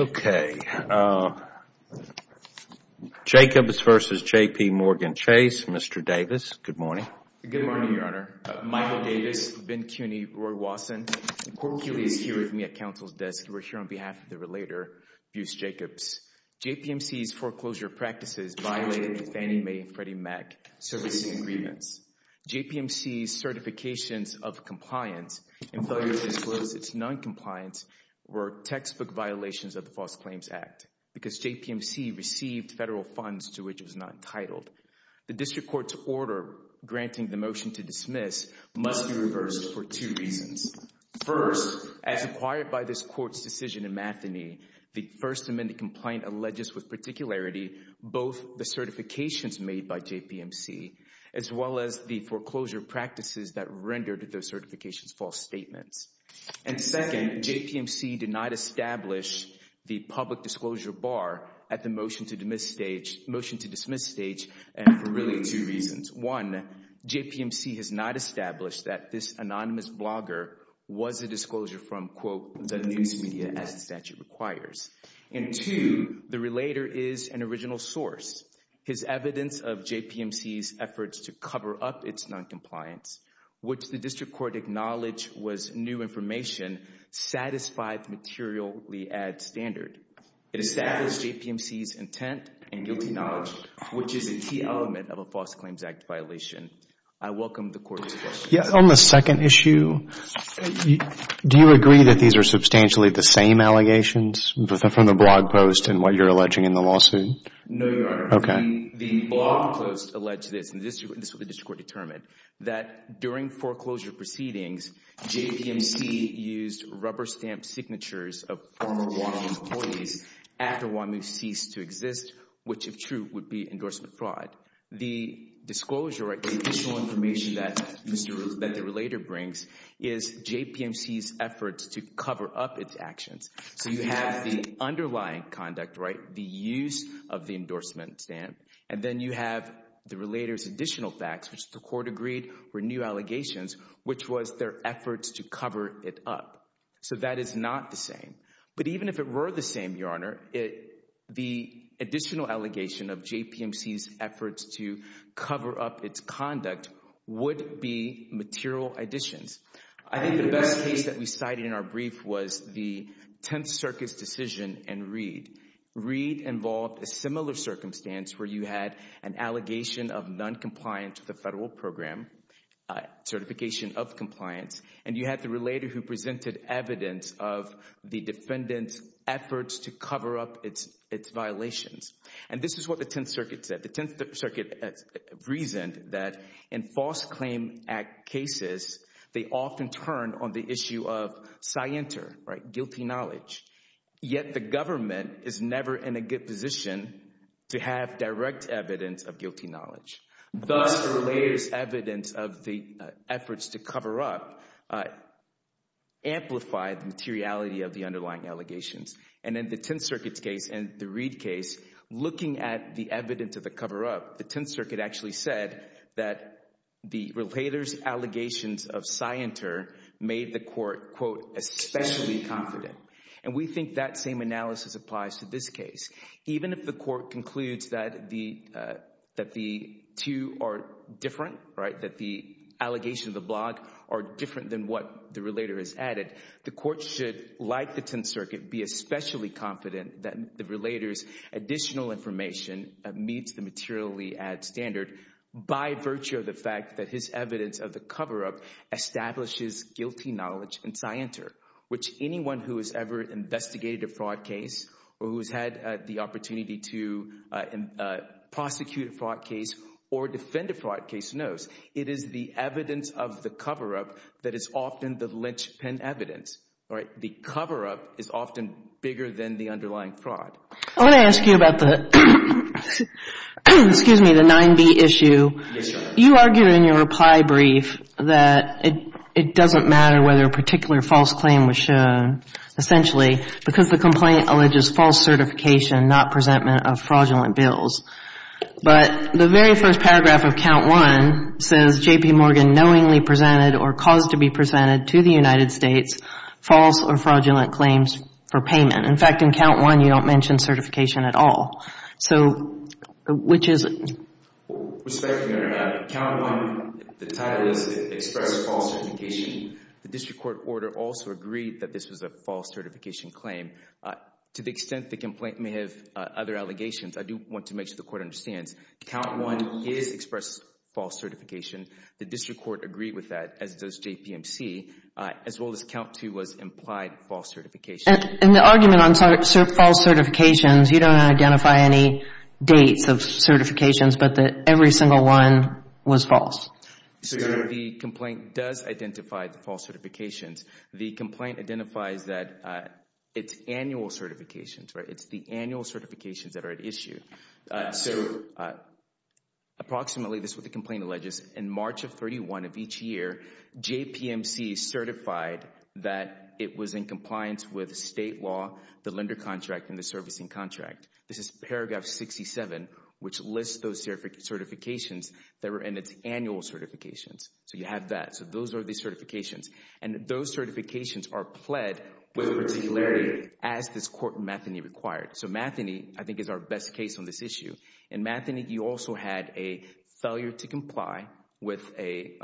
Okay, Jacobs v. JP Morgan Chase, Mr. Davis, good morning. Good morning, Your Honor. Michael Davis, Ben Cuney, Roy Watson. Court is here with me at counsel's desk. We're here on behalf of the relator, Buse Jacobs. JPMC's foreclosure practices violated the Fannie Mae and Freddie Mac services agreements. JPMC's certifications of compliance and failure to disclose its noncompliance were textbook violations of the False Claims Act because JPMC received federal funds to which it was not entitled. The district court's order granting the motion to dismiss must be reversed for two reasons. First, as acquired by this court's decision in Matheny, the First Amendment complaint alleges with particularity both the certifications made by JPMC as well as the foreclosure practices that rendered those certifications false statements. And second, JPMC did not establish the public disclosure bar at the motion to dismiss stage for really two reasons. One, JPMC has not established that this anonymous blogger was a disclosure from, quote, the news media as the statute requires. And two, the relator is an original source. His evidence of JPMC's efforts to cover up its noncompliance, which the district court acknowledged was new information, satisfied the materially-add standard. It established JPMC's intent and guilty knowledge, which is a key element of a False Claims Act violation. I welcome the court's questions. On the second issue, do you agree that these are substantially the same allegations from the blog post and what you're alleging in the lawsuit? No, Your Honor. Okay. The blog post alleged this, and this is what the district court determined, that during foreclosure proceedings, JPMC used rubber stamp signatures of former WAMU employees after WAMU ceased to exist, which, if true, would be endorsement fraud. The disclosure, the additional information that the relator brings, is JPMC's efforts to cover up its actions. So you have the underlying conduct, right, the use of the endorsement stamp, and then you have the relator's additional facts, which the court agreed were new allegations, which was their efforts to cover it up. So that is not the same. But even if it were the same, Your Honor, the additional allegation of JPMC's efforts to cover up its conduct would be material additions. I think the best case that we cited in our brief was the Tenth Circuit's decision in Reed. Reed involved a similar circumstance where you had an allegation of noncompliance with a federal program, certification of compliance, and you had the relator who presented evidence of the defendant's efforts to cover up its violations. And this is what the Tenth Circuit said. The Tenth Circuit reasoned that in False Claim Act cases, they often turn on the issue of scienter, right, guilty knowledge. Yet the government is never in a good position to have direct evidence of guilty knowledge. Thus, the relator's evidence of the efforts to cover up amplified the materiality of the underlying allegations. And in the Tenth Circuit's case and the Reed case, looking at the evidence of the cover up, the Tenth Circuit actually said that the relator's allegations of scienter made the court, quote, especially confident. And we think that same analysis applies to this case. Even if the court concludes that the two are different, right, that the allegations of the blog are different than what the relator has added, the court should, like the Tenth Circuit, be especially confident that the relator's additional information meets the materially added standard by virtue of the fact that his evidence of the cover up establishes guilty knowledge and scienter, which anyone who has ever investigated a fraud case or who has had the opportunity to prosecute a fraud case or defend a fraud case knows. It is the evidence of the cover up that is often the linchpin evidence, right? The cover up is often bigger than the underlying fraud. I want to ask you about the, excuse me, the 9B issue. You argued in your reply brief that it doesn't matter whether a particular false claim was shown, essentially, because the complaint alleges false certification, not presentment of fraudulent bills. But the very first paragraph of count one says J.P. Morgan knowingly presented or caused to be presented to the United States false or fraudulent claims for payment. In fact, in count one, you don't mention certification at all. So which is it? Respectfully, Your Honor, count one, the title is expressed false certification. The district court order also agreed that this was a false certification claim. To the extent the complaint may have other allegations, I do want to make sure the court understands. Count one is expressed false certification. The district court agreed with that, as does JPMC, as well as count two was implied false certification. In the argument on false certifications, you don't identify any dates of certifications, but that every single one was false. So the complaint does identify the false certifications. The complaint identifies that it's annual certifications, right? It's the annual certifications that are at issue. So approximately, this is what the complaint alleges. In March of 31 of each year, JPMC certified that it was in compliance with state law, the lender contract, and the servicing contract. This is paragraph 67, which lists those certifications that were in its annual certifications. So you have that. So those are the certifications. And those certifications are pled with particularity as this court, Matheny, required. So Matheny, I think, is our best case on this issue. In Matheny, you also had a failure to comply with a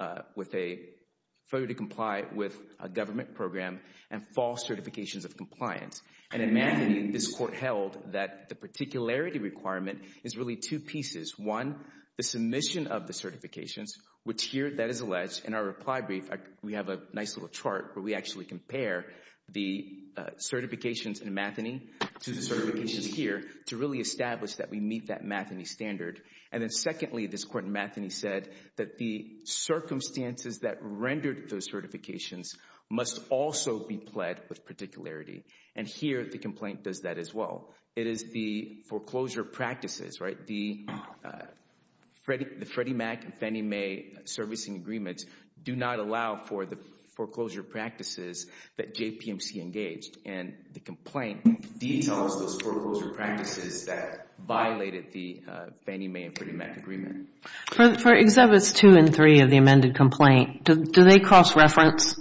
government program and false certifications of compliance. And in Matheny, this court held that the particularity requirement is really two pieces. One, the submission of the certifications, which here, that is alleged. In our reply brief, we have a nice little chart where we actually compare the certifications in Matheny to the certifications here to really establish that we meet that Matheny standard. And then secondly, this court in Matheny said that the circumstances that rendered those certifications must also be pled with particularity. And here, the complaint does that as well. It is the foreclosure practices, right? The Freddie Mac and Fannie Mae servicing agreements do not allow for the foreclosure practices that JPMC engaged. And the complaint details those foreclosure practices that violated the Fannie Mae and Freddie Mac agreement. For Exhibits 2 and 3 of the amended complaint, do they cross-reference?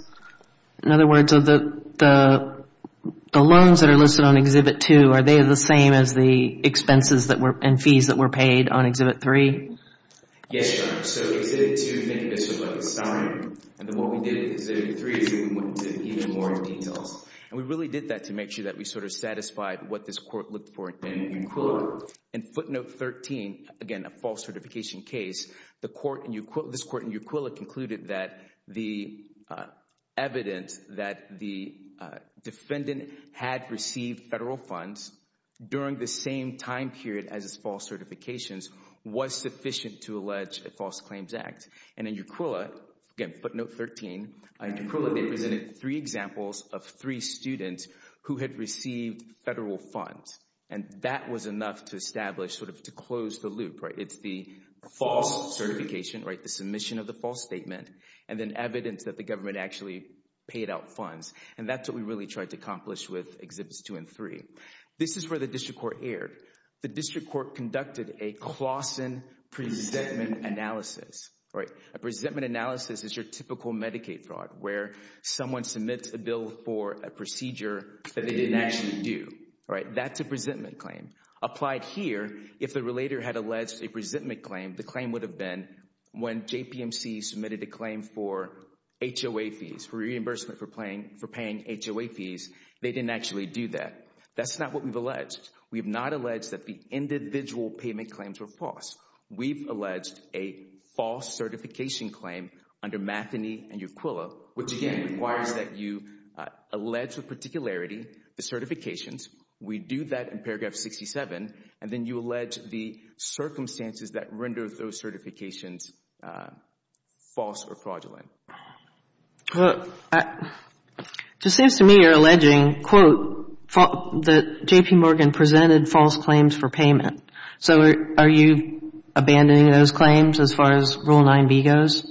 In other words, the loans that are listed on Exhibit 2, are they the same as the expenses and fees that were paid on Exhibit 3? Yes, Your Honor. So Exhibit 2, think of this as like a summary. And then what we did with Exhibit 3 is we went into even more details. And we really did that to make sure that we sort of satisfied what this court looked for in Uquilla. In footnote 13, again a false certification case, this court in Uquilla concluded that the evidence that the defendant had received federal funds during the same time period as his false certifications was sufficient to allege a false claims act. And in Uquilla, again footnote 13, in Uquilla they presented three examples of three students who had received federal funds. And that was enough to establish, sort of to close the loop. It's the false certification, the submission of the false statement, and then evidence that the government actually paid out funds. And that's what we really tried to accomplish with Exhibits 2 and 3. This is where the district court erred. The district court conducted a Clausen presentment analysis. A presentment analysis is your typical Medicaid fraud where someone submits a bill for a procedure that they didn't actually do. That's a presentment claim. Applied here, if the relator had alleged a presentment claim, the claim would have been when JPMC submitted a claim for HOA fees, for reimbursement for paying HOA fees, they didn't actually do that. That's not what we've alleged. We have not alleged that the individual payment claims were false. We've alleged a false certification claim under Matheny and Uquilla, which again requires that you allege the particularity, the certifications. We do that in paragraph 67. And then you allege the circumstances that render those certifications false or fraudulent. It just seems to me you're alleging, quote, that JPMorgan presented false claims for payment. So are you abandoning those claims as far as Rule 9b goes?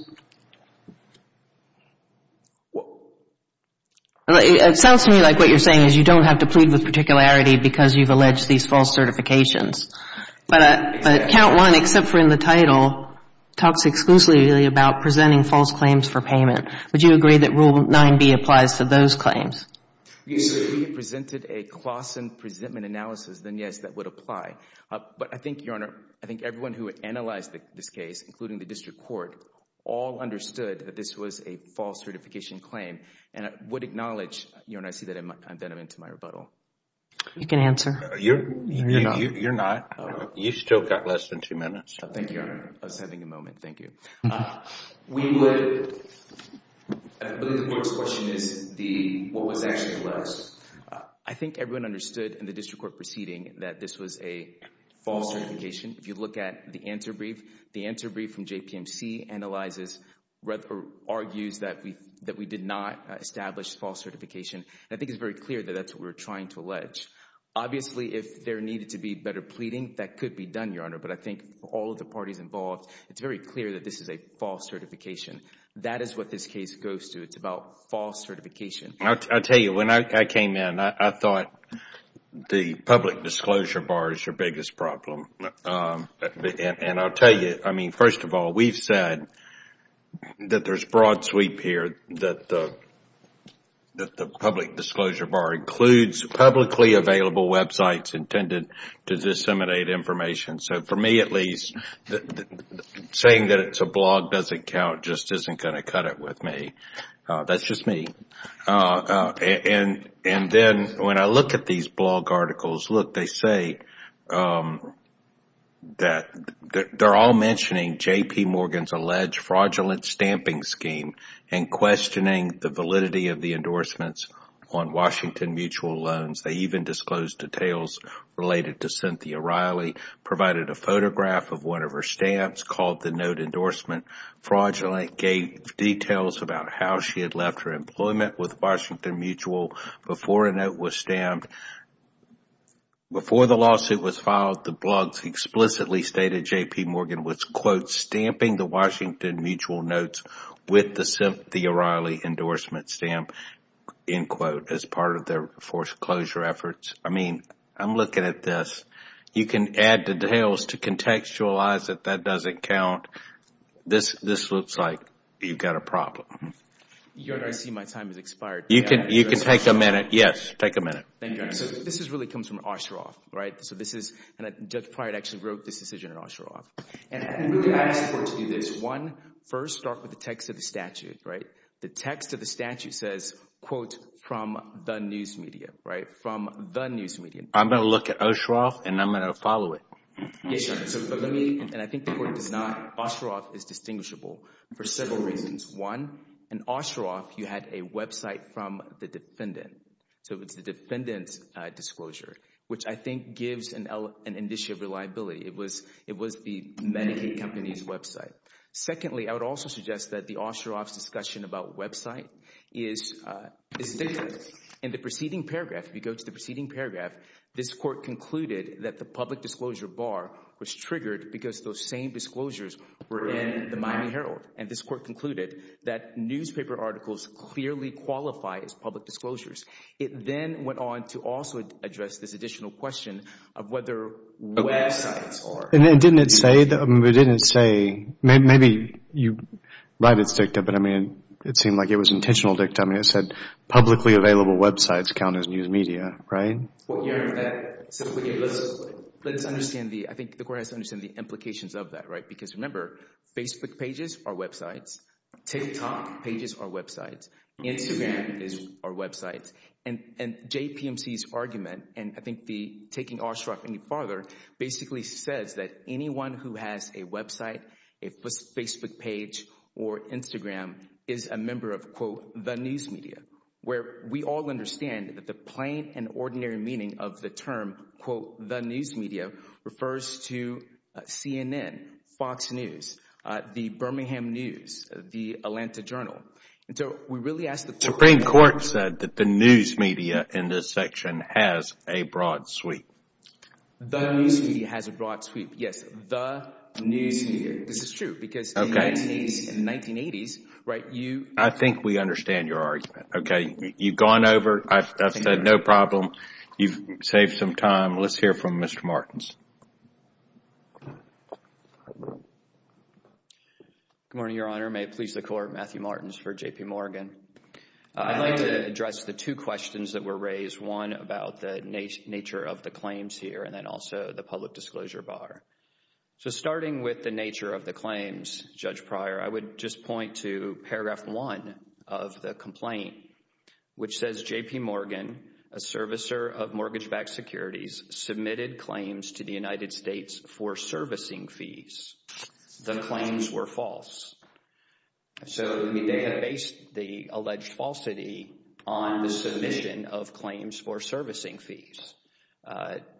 It sounds to me like what you're saying is you don't have to plead with particularity because you've alleged these false certifications. But count 1, except for in the title, talks exclusively about presenting false claims for payment. Would you agree that Rule 9b applies to those claims? So if he presented a Klassen presentment analysis, then yes, that would apply. But I think, Your Honor, I think everyone who analyzed this case, including the district court, all understood that this was a false certification claim. And I would acknowledge, Your Honor, I see that I'm into my rebuttal. You can answer. You're not. You still got less than two minutes. Thank you, Your Honor. I was having a moment. Thank you. I believe the court's question is what was actually alleged. I think everyone understood in the district court proceeding that this was a false certification. If you look at the answer brief, the answer brief from JPMC analyzes or argues that we did not establish false certification. And I think it's very clear that that's what we're trying to allege. Obviously, if there needed to be better pleading, that could be done, Your Honor. But I think all of the parties involved, it's very clear that this is a false certification. That is what this case goes to. It's about false certification. I'll tell you, when I came in, I thought the public disclosure bar is your biggest problem. And I'll tell you, I mean, first of all, we've said that there's broad sweep here, that the public disclosure bar includes publicly available websites intended to disseminate information. So for me, at least, saying that it's a blog doesn't count just isn't going to cut it with me. That's just me. And then when I look at these blog articles, look, they say that they're all mentioning J.P. Morgan's alleged fraudulent stamping scheme and questioning the validity of the endorsements on Washington mutual loans. They even disclosed details related to Cynthia Riley, provided a photograph of one of her stamps, called the note endorsement fraudulent, gave details about how she had left her employment with Washington Mutual before a note was stamped. Before the lawsuit was filed, the blogs explicitly stated J.P. Morgan was, quote, with the Cynthia Riley endorsement stamp, end quote, as part of their foreclosure efforts. I mean, I'm looking at this. You can add details to contextualize it. That doesn't count. This looks like you've got a problem. I see my time has expired. You can take a minute. Yes, take a minute. Thank you. So this really comes from Osheroff, right? So this is, and Doug Pryor actually wrote this decision at Osheroff. And we asked for it to do this. One, first start with the text of the statute, right? The text of the statute says, quote, from the news media, right? From the news media. I'm going to look at Osheroff, and I'm going to follow it. And I think the court does not. Osheroff is distinguishable for several reasons. One, in Osheroff, you had a website from the defendant. So it's the defendant's disclosure, which I think gives an issue of reliability. It was the Medicaid company's website. Secondly, I would also suggest that the Osheroff's discussion about website is different. In the preceding paragraph, if you go to the preceding paragraph, this court concluded that the public disclosure bar was triggered because those same disclosures were in the Miami Herald. And this court concluded that newspaper articles clearly qualify as public disclosures. It then went on to also address this additional question of whether websites are. And didn't it say, maybe you're right, it's dicta, but I mean, it seemed like it was intentional dicta. I mean, it said publicly available websites count as news media, right? Let's understand, I think the court has to understand the implications of that, right? Because remember, Facebook pages are websites. TikTok pages are websites. Instagram is our website. And JPMC's argument, and I think the taking Osheroff any farther, basically says that anyone who has a website, a Facebook page, or Instagram, is a member of, quote, the news media. Where we all understand that the plain and ordinary meaning of the term, quote, the news media, refers to CNN, Fox News, the Birmingham News, the Atlanta Journal. Supreme Court said that the news media in this section has a broad sweep. The news media has a broad sweep. Yes, the news media. This is true, because in the 1980s, right, you... I think we understand your argument, okay? You've gone over, I've said no problem. You've saved some time. Let's hear from Mr. Martins. Good morning, Your Honor. May it please the Court, Matthew Martins for JPMorgan. I'd like to address the two questions that were raised, one about the nature of the claims here, and then also the public disclosure bar. So starting with the nature of the claims, Judge Pryor, I would just point to paragraph one of the complaint, which says JPMorgan, a servicer of mortgage-backed securities, submitted claims to the United States for servicing fees. The claims were false. So they have based the alleged falsity on the submission of claims for servicing fees.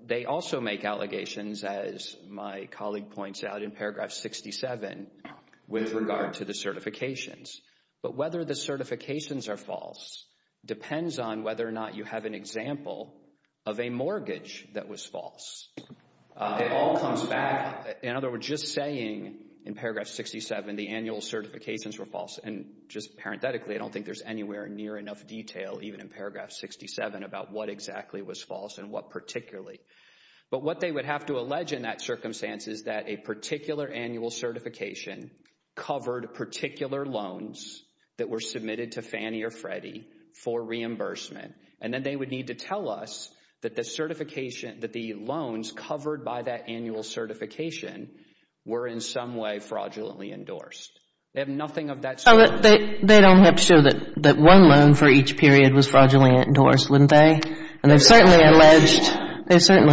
They also make allegations, as my colleague points out in paragraph 67, with regard to the certifications. But whether the certifications are false depends on whether or not you have an example of a mortgage that was false. It all comes back, in other words, just saying in paragraph 67 the annual certifications were false. And just parenthetically, I don't think there's anywhere near enough detail, even in paragraph 67, about what exactly was false and what particularly. But what they would have to allege in that circumstance is that a particular annual certification covered particular loans that were submitted to Fannie or Freddie for reimbursement. And then they would need to tell us that the loans covered by that annual certification were in some way fraudulently endorsed. They have nothing of that sort. They don't have to show that one loan for each period was fraudulently endorsed, wouldn't they? And they certainly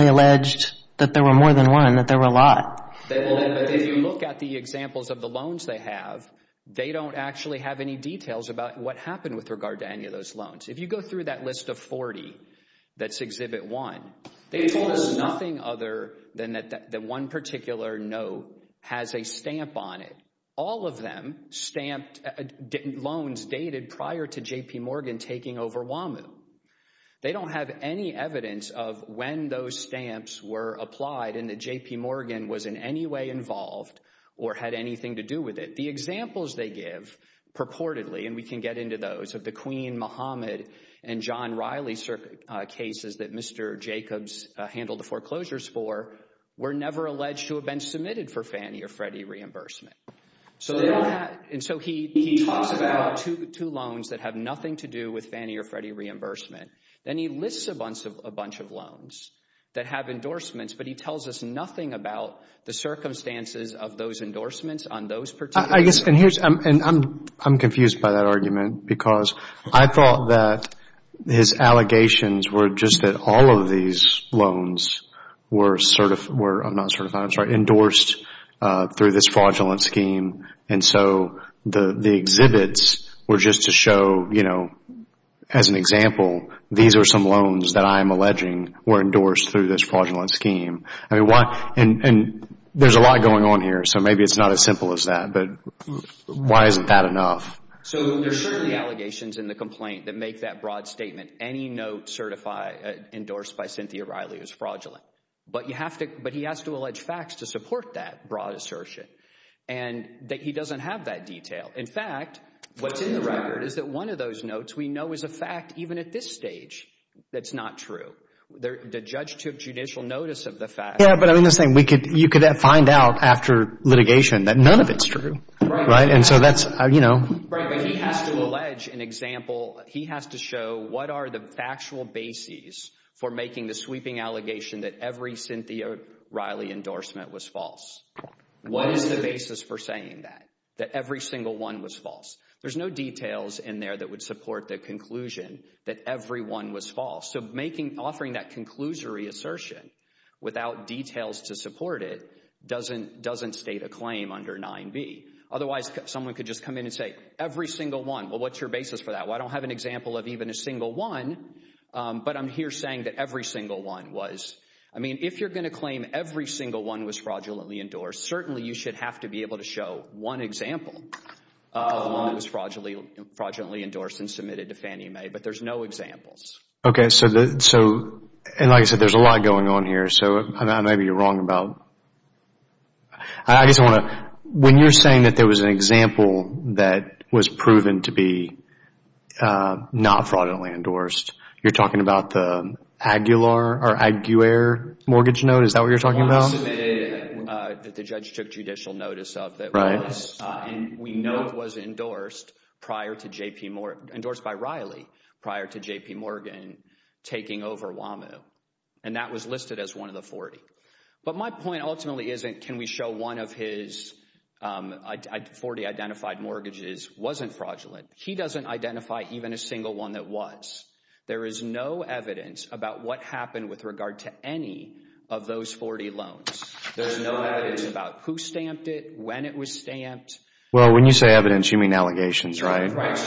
alleged that there were more than one, that there were a But if you look at the examples of the loans they have, they don't actually have any details about what happened with regard to any of those loans. If you go through that list of 40, that's Exhibit 1, they told us nothing other than that one particular note has a stamp on it. All of them stamped loans dated prior to J.P. Morgan taking over WAMU. They don't have any evidence of when those stamps were applied and that J.P. Morgan was in any way involved or had anything to do with it. The examples they give purportedly, and we can get into those, of the Queen Mohammed and John Riley cases that Mr. Jacobs handled the foreclosures for, were never alleged to have been submitted for Fannie or Freddie reimbursement. And so he talks about two loans that have nothing to do with Fannie or Freddie reimbursement. Then he lists a bunch of loans that have endorsements, but he tells us nothing about the circumstances of those endorsements on those particular loans. I'm confused by that argument because I thought that his allegations were just that all of these loans were endorsed through this fraudulent scheme. And so the exhibits were just to show, you know, as an example, these are some loans that I am alleging were endorsed through this fraudulent scheme. And there's a lot going on here, so maybe it's not as simple as that, but why isn't that enough? So there are certainly allegations in the complaint that make that broad statement, any note endorsed by Cynthia Riley was fraudulent. But he has to allege facts to support that broad assertion and that he doesn't have that detail. In fact, what's in the record is that one of those notes we know is a fact even at this stage that's not true. The judge took judicial notice of the fact. Yeah, but I'm just saying you could find out after litigation that none of it's true, right? And so that's, you know. Right, but he has to allege an example. He has to show what are the factual bases for making the sweeping allegation that every Cynthia Riley endorsement was false. What is the basis for saying that, that every single one was false? There's no details in there that would support the conclusion that every one was false. So offering that conclusory assertion without details to support it doesn't state a claim under 9B. Otherwise, someone could just come in and say every single one. Well, what's your basis for that? Well, I don't have an example of even a single one, but I'm here saying that every single one was. I mean, if you're going to claim every single one was fraudulently endorsed, certainly you should have to be able to show one example of one that was fraudulently endorsed and submitted to Fannie Mae, but there's no examples. Okay, so, and like I said, there's a lot going on here, so I may be wrong about, I guess I want to, when you're saying that there was an example that was proven to be not fraudulently endorsed, you're talking about the Aguilar or Aguiar mortgage note? Is that what you're talking about? That the judge took judicial notice of that was, and we know it was endorsed by Riley prior to J.P. Morgan taking over Wham-O, and that was listed as one of the 40. But my point ultimately isn't can we show one of his 40 identified mortgages wasn't fraudulent. He doesn't identify even a single one that was. There is no evidence about what happened with regard to any of those 40 loans. There's no evidence about who stamped it, when it was stamped. Well, when you say evidence, you mean allegations, right? Right.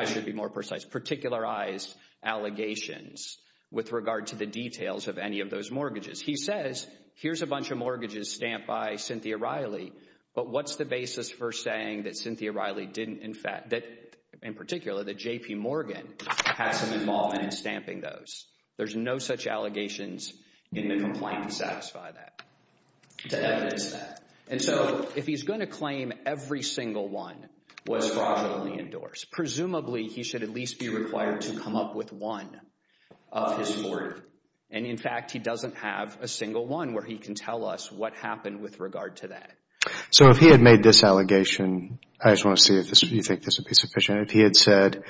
I should be more precise. Particularized allegations with regard to the details of any of those mortgages. He says, here's a bunch of mortgages stamped by Cynthia Riley, but what's the basis for saying that Cynthia Riley didn't in fact, that in particular, that J.P. Morgan had some involvement in stamping those? There's no such allegations in the complaint to satisfy that, to evidence that. If he's going to claim every single one was fraudulently endorsed, presumably he should at least be required to come up with one of his 40. In fact, he doesn't have a single one where he can tell us what happened with regard to that. If he had made this allegation, I just want to see if you think this would be sufficient. If he had said,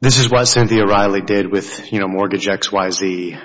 this is what Cynthia Riley did with mortgage XYZ.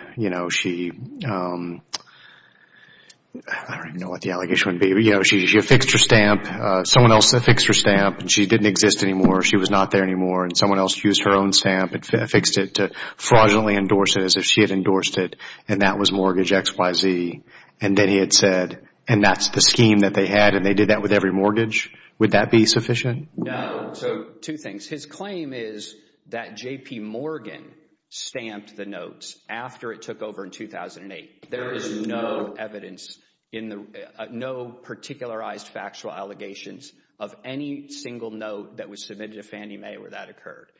I don't even know what the allegation would be. She affixed her stamp. Someone else affixed her stamp. She didn't exist anymore. She was not there anymore. Someone else used her own stamp and affixed it to fraudulently endorse it as if she had endorsed it, and that was mortgage XYZ. Then he had said, and that's the scheme that they had, and they did that with every mortgage. Would that be sufficient? No. Two things. His claim is that J.P. Morgan stamped the notes after it took over in 2008. There is no evidence, no particularized factual allegations of any single note that was submitted to Fannie Mae where that occurred.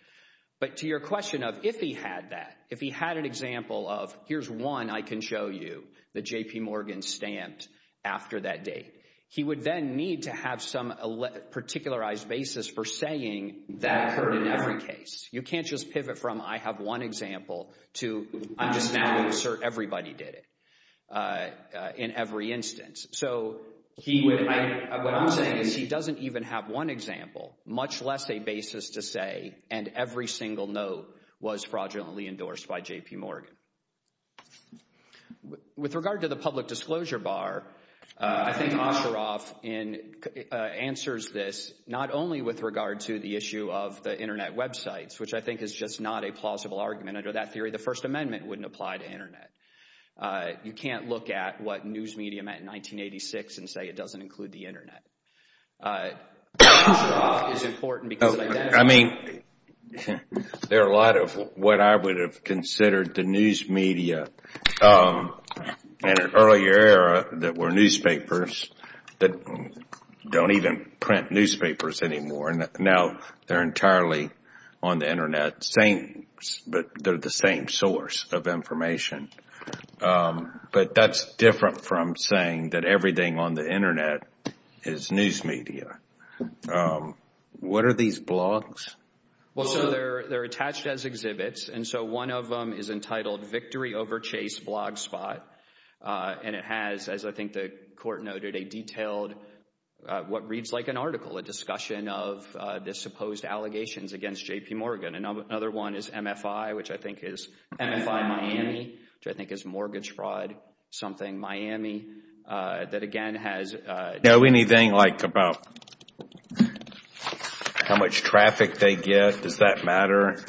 But to your question of if he had that, if he had an example of, here's one I can show you that J.P. Morgan stamped after that date, he would then need to have some particularized basis for saying that occurred in every case. You can't just pivot from I have one example to I'm just now going to assert everybody did it in every instance. So what I'm saying is he doesn't even have one example, much less a basis to say, and every single note was fraudulently endorsed by J.P. Morgan. With regard to the public disclosure bar, I think Osheroff answers this not only with regard to the issue of the Internet websites, which I think is just not a plausible argument under that theory. The First Amendment wouldn't apply to Internet. You can't look at what news media meant in 1986 and say it doesn't include the Internet. Osheroff is important because of that. I mean, there are a lot of what I would have considered the news media in an earlier era that were newspapers that don't even print newspapers anymore, and now they're entirely on the Internet, but they're the same source of information. But that's different from saying that everything on the Internet is news media. What are these blogs? Well, so they're attached as exhibits, and so one of them is entitled Victory Over Chase Blog Spot, and it has, as I think the Court noted, a detailed what reads like an article, a discussion of the supposed allegations against J.P. Morgan. Another one is MFI, which I think is MFI Miami, which I think is mortgage fraud something Miami that, again, has... Do we know anything like about how much traffic they get? Does that matter?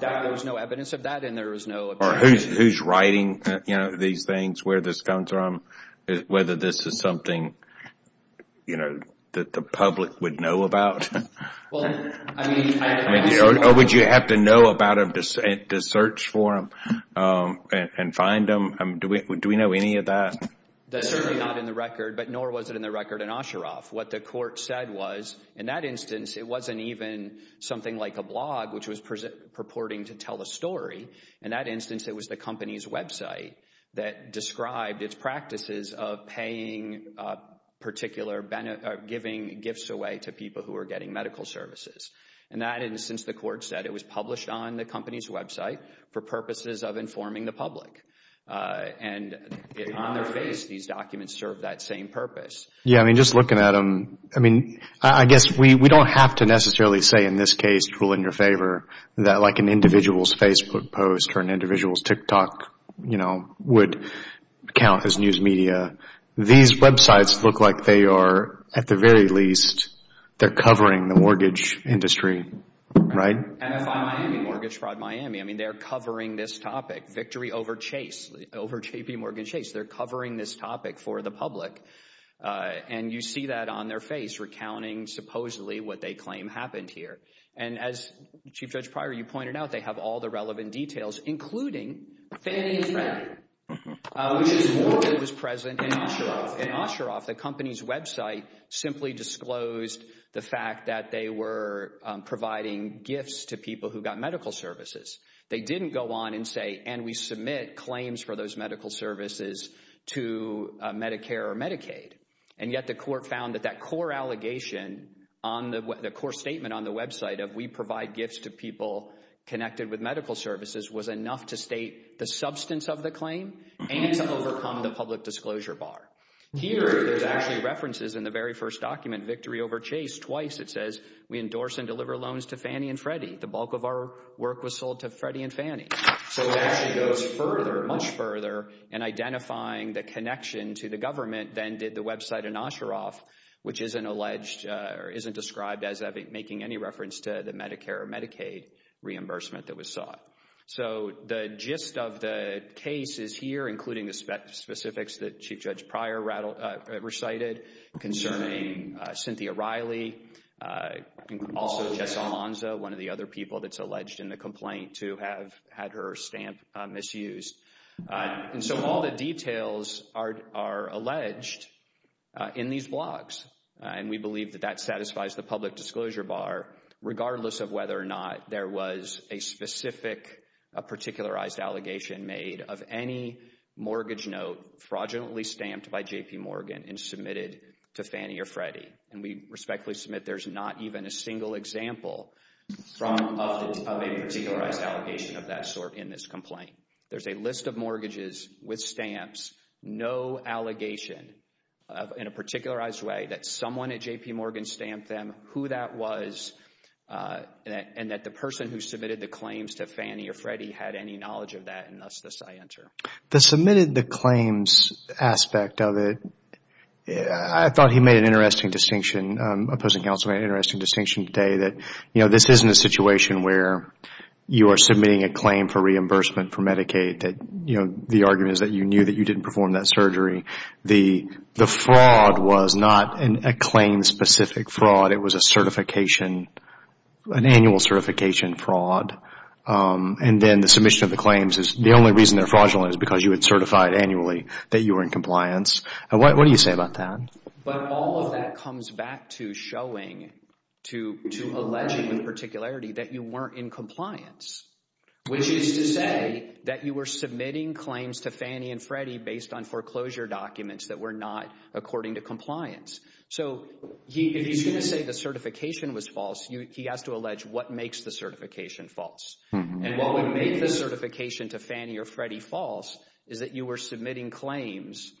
There's no evidence of that, and there is no... Or who's writing these things, where this comes from, whether this is something that the public would know about? Well, I mean... Or would you have to know about them to search for them and find them? Do we know any of that? That's certainly not in the record, but nor was it in the record in Osharoff. What the Court said was, in that instance, it wasn't even something like a blog, which was purporting to tell the story. In that instance, it was the company's website that described its practices of paying particular... Giving gifts away to people who were getting medical services. In that instance, the Court said it was published on the company's website for purposes of informing the public. And on their face, these documents serve that same purpose. Yeah, I mean, just looking at them, I mean, I guess we don't have to necessarily say, in this case, rule in your favor, that like an individual's Facebook post or an individual's TikTok, you know, would count as news media. These websites look like they are, at the very least, they're covering the mortgage industry, right? MFI Miami, Mortgage Fraud Miami. I mean, they're covering this topic. Victory over Chase, over JPMorgan Chase. They're covering this topic for the public. And you see that on their face, recounting supposedly what they claim happened here. And as Chief Judge Pryor, you pointed out, they have all the relevant details, including family and friends, which is more than was present in Osharoff. In Osharoff, the company's website simply disclosed the fact that they were providing gifts to people who got medical services. They didn't go on and say, and we submit claims for those medical services to Medicare or Medicaid. And yet the court found that that core allegation, the core statement on the website of we provide gifts to people connected with medical services was enough to state the substance of the claim and to overcome the public disclosure bar. Here, there's actually references in the very first document. Victory over Chase, twice it says, we endorse and deliver loans to Fannie and Freddie. The bulk of our work was sold to Freddie and Fannie. So it actually goes further, much further, in identifying the connection to the government than did the website in Osharoff, which isn't alleged or isn't described as making any reference to the Medicare or Medicaid reimbursement that was sought. So the gist of the case is here, including the specifics that Chief Judge Pryor recited concerning Cynthia Riley, also Jessa Alonzo, one of the other people that's alleged in the complaint to have had her stamp misused. And so all the details are alleged in these blogs. And we believe that that satisfies the public disclosure bar, regardless of whether or not there was a specific particularized allegation made of any mortgage note fraudulently stamped by J.P. Morgan and submitted to Fannie or Freddie. And we respectfully submit there's not even a single example of a particularized allegation of that sort in this complaint. There's a list of mortgages with stamps, no allegation in a particularized way that someone at J.P. Morgan stamped them, who that was, and that the person who submitted the claims to Fannie or Freddie had any knowledge of that, and thus thus I enter. The submitted the claims aspect of it, I thought he made an interesting distinction, opposing counsel made an interesting distinction today, that this isn't a situation where you are submitting a claim for reimbursement for Medicaid that the argument is that you knew that you didn't perform that surgery. The fraud was not a claim specific fraud. It was a certification, an annual certification fraud. And then the submission of the claims, the only reason they're fraudulent is because you had certified annually that you were in compliance. What do you say about that? But all of that comes back to showing, to alleging with particularity that you weren't in compliance, which is to say that you were submitting claims to Fannie and Freddie based on foreclosure documents that were not according to compliance. So if he's going to say the certification was false, he has to allege what makes the certification false. And what would make the certification to Fannie or Freddie false is that you were submitting claims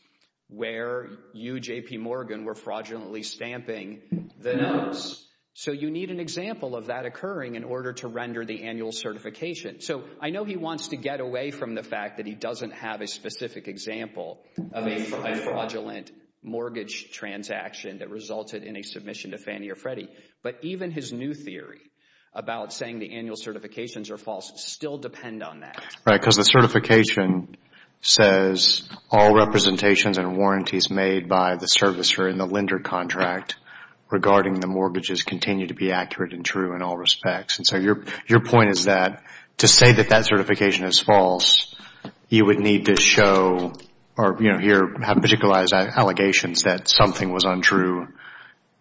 where you, J.P. Morgan, were fraudulently stamping the notes. So you need an example of that occurring in order to render the annual certification. So I know he wants to get away from the fact that he doesn't have a specific example of a fraudulent mortgage transaction that resulted in a submission to Fannie or Freddie. But even his new theory about saying the annual certifications are false still depend on that. Right, because the certification says all representations and warranties made by the servicer in the lender contract regarding the mortgages continue to be accurate and true in all respects. So your point is that to say that that certification is false, you would need to show or have particularized allegations that something was untrue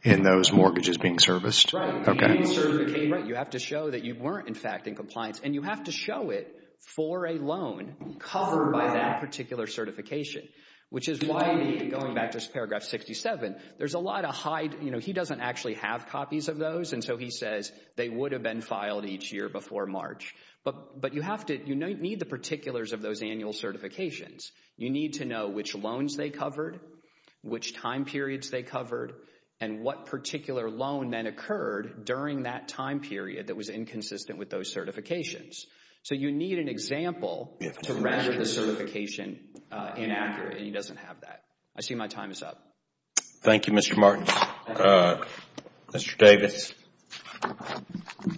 in those mortgages being serviced. Right. You have to show that you weren't, in fact, in compliance. And you have to show it for a loan covered by that particular certification, which is why you need, going back to paragraph 67, there's a lot of high, you know, he doesn't actually have copies of those. And so he says they would have been filed each year before March. But you have to, you need the particulars of those annual certifications. You need to know which loans they covered, which time periods they covered, and what particular loan then occurred during that time period that was So you need an example to measure the certification inaccurate, and he doesn't have that. I see my time is up. Thank you, Mr. Martin. Mr. Davis. Yes.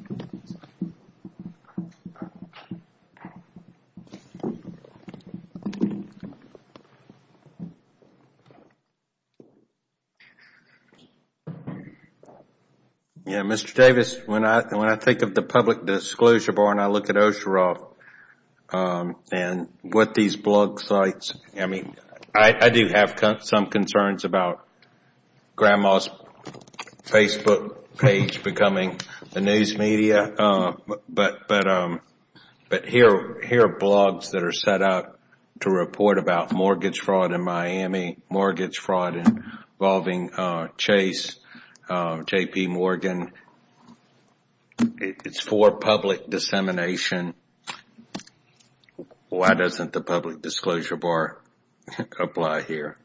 Yeah, Mr. Davis, when I think of the public disclosure board, I look at OSHERA and what these blog sites, I mean, I do have some concerns about grandma's Facebook page becoming the news media. But here are blogs that are set up to report about mortgage fraud in Miami, mortgage fraud involving Chase, JPMorgan. It's for public dissemination. Why doesn't the public disclosure board apply here?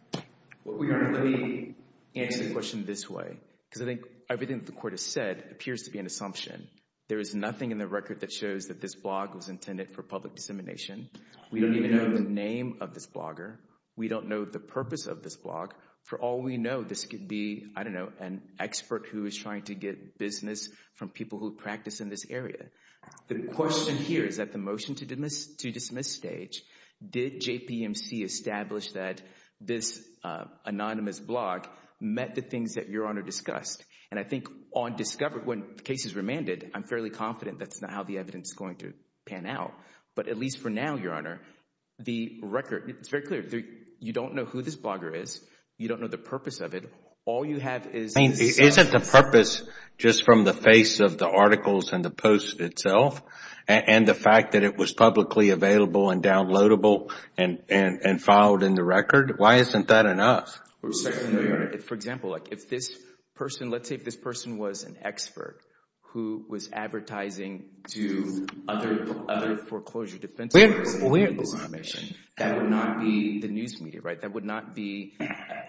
Let me answer the question this way, because I think everything the court has said appears to be an assumption. There is nothing in the record that shows that this blog was intended for public dissemination. We don't even know the name of this blogger. We don't know the purpose of this blog. For all we know, this could be, I don't know, an expert who is trying to get business from people who practice in this area. The question here is at the motion to dismiss stage, did JPMC establish that this anonymous blog met the things that Your Honor discussed? And I think on discovery, when the case is remanded, I'm fairly confident that's not how the evidence is going to pan out. But at least for now, Your Honor, the record, it's very clear. You don't know who this blogger is. You don't know the purpose of it. All you have is the status. The purpose, just from the face of the articles and the post itself, and the fact that it was publicly available and downloadable and filed in the record, why isn't that enough? For example, if this person, let's say if this person was an expert who was advertising to other foreclosure defense lawyers, that would not be the news media, right? That would not be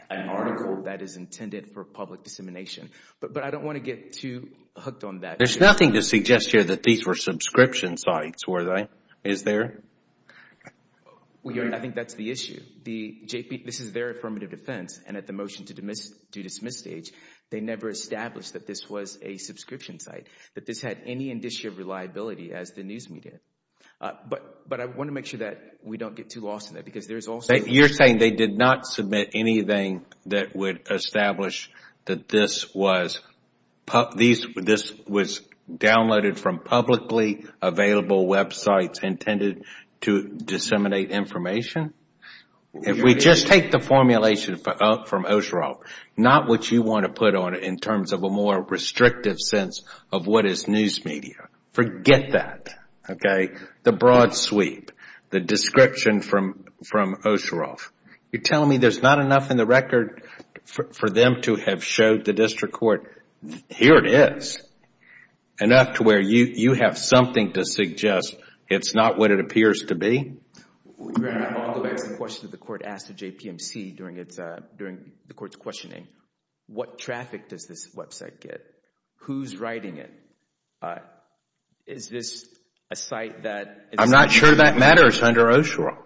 an article that is intended for public dissemination. But I don't want to get too hooked on that. There's nothing to suggest here that these were subscription sites, were they? Is there? Well, Your Honor, I think that's the issue. This is their affirmative defense, and at the motion to dismiss stage, they never established that this was a subscription site, that this had any indicia of reliability as the news media. But I want to make sure that we don't get too lost in that because there is also... You're saying they did not submit anything that would establish that this was downloaded from publicly available websites intended to disseminate information? If we just take the formulation from Osherall, not what you want to put on it in terms of a more restrictive sense of what is news media. Forget that, okay? The broad sweep, the description from Osherall. You're telling me there's not enough in the record for them to have showed the district court, here it is, enough to where you have something to suggest it's not what it appears to be? Your Honor, I'll go back to the question that the court asked of JPMC during the court's questioning. What traffic does this website get? Who's writing it? Is this a site that... I'm not sure that matters under Osherall.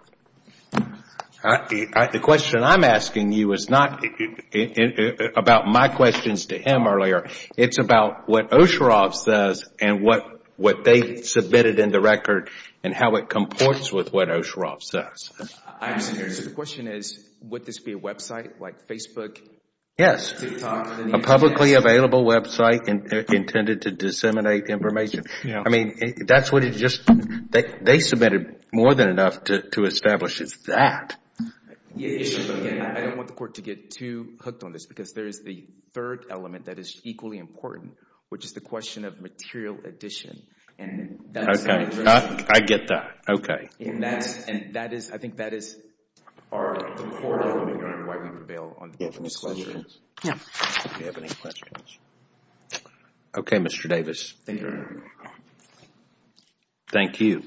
The question I'm asking you is not about my questions to him earlier. It's about what Osherall says and what they submitted in the record and how it comports with what Osherall says. So the question is, would this be a website like Facebook? Yes. A publicly available website intended to disseminate information. I mean, that's what it just... They submitted more than enough to establish it's that. I don't want the court to get too hooked on this because there is the third element that is equally important, which is the question of material addition. I get that, okay. That is, I think that is... All right. Okay, Mr. Davis. Thank you. Thank you.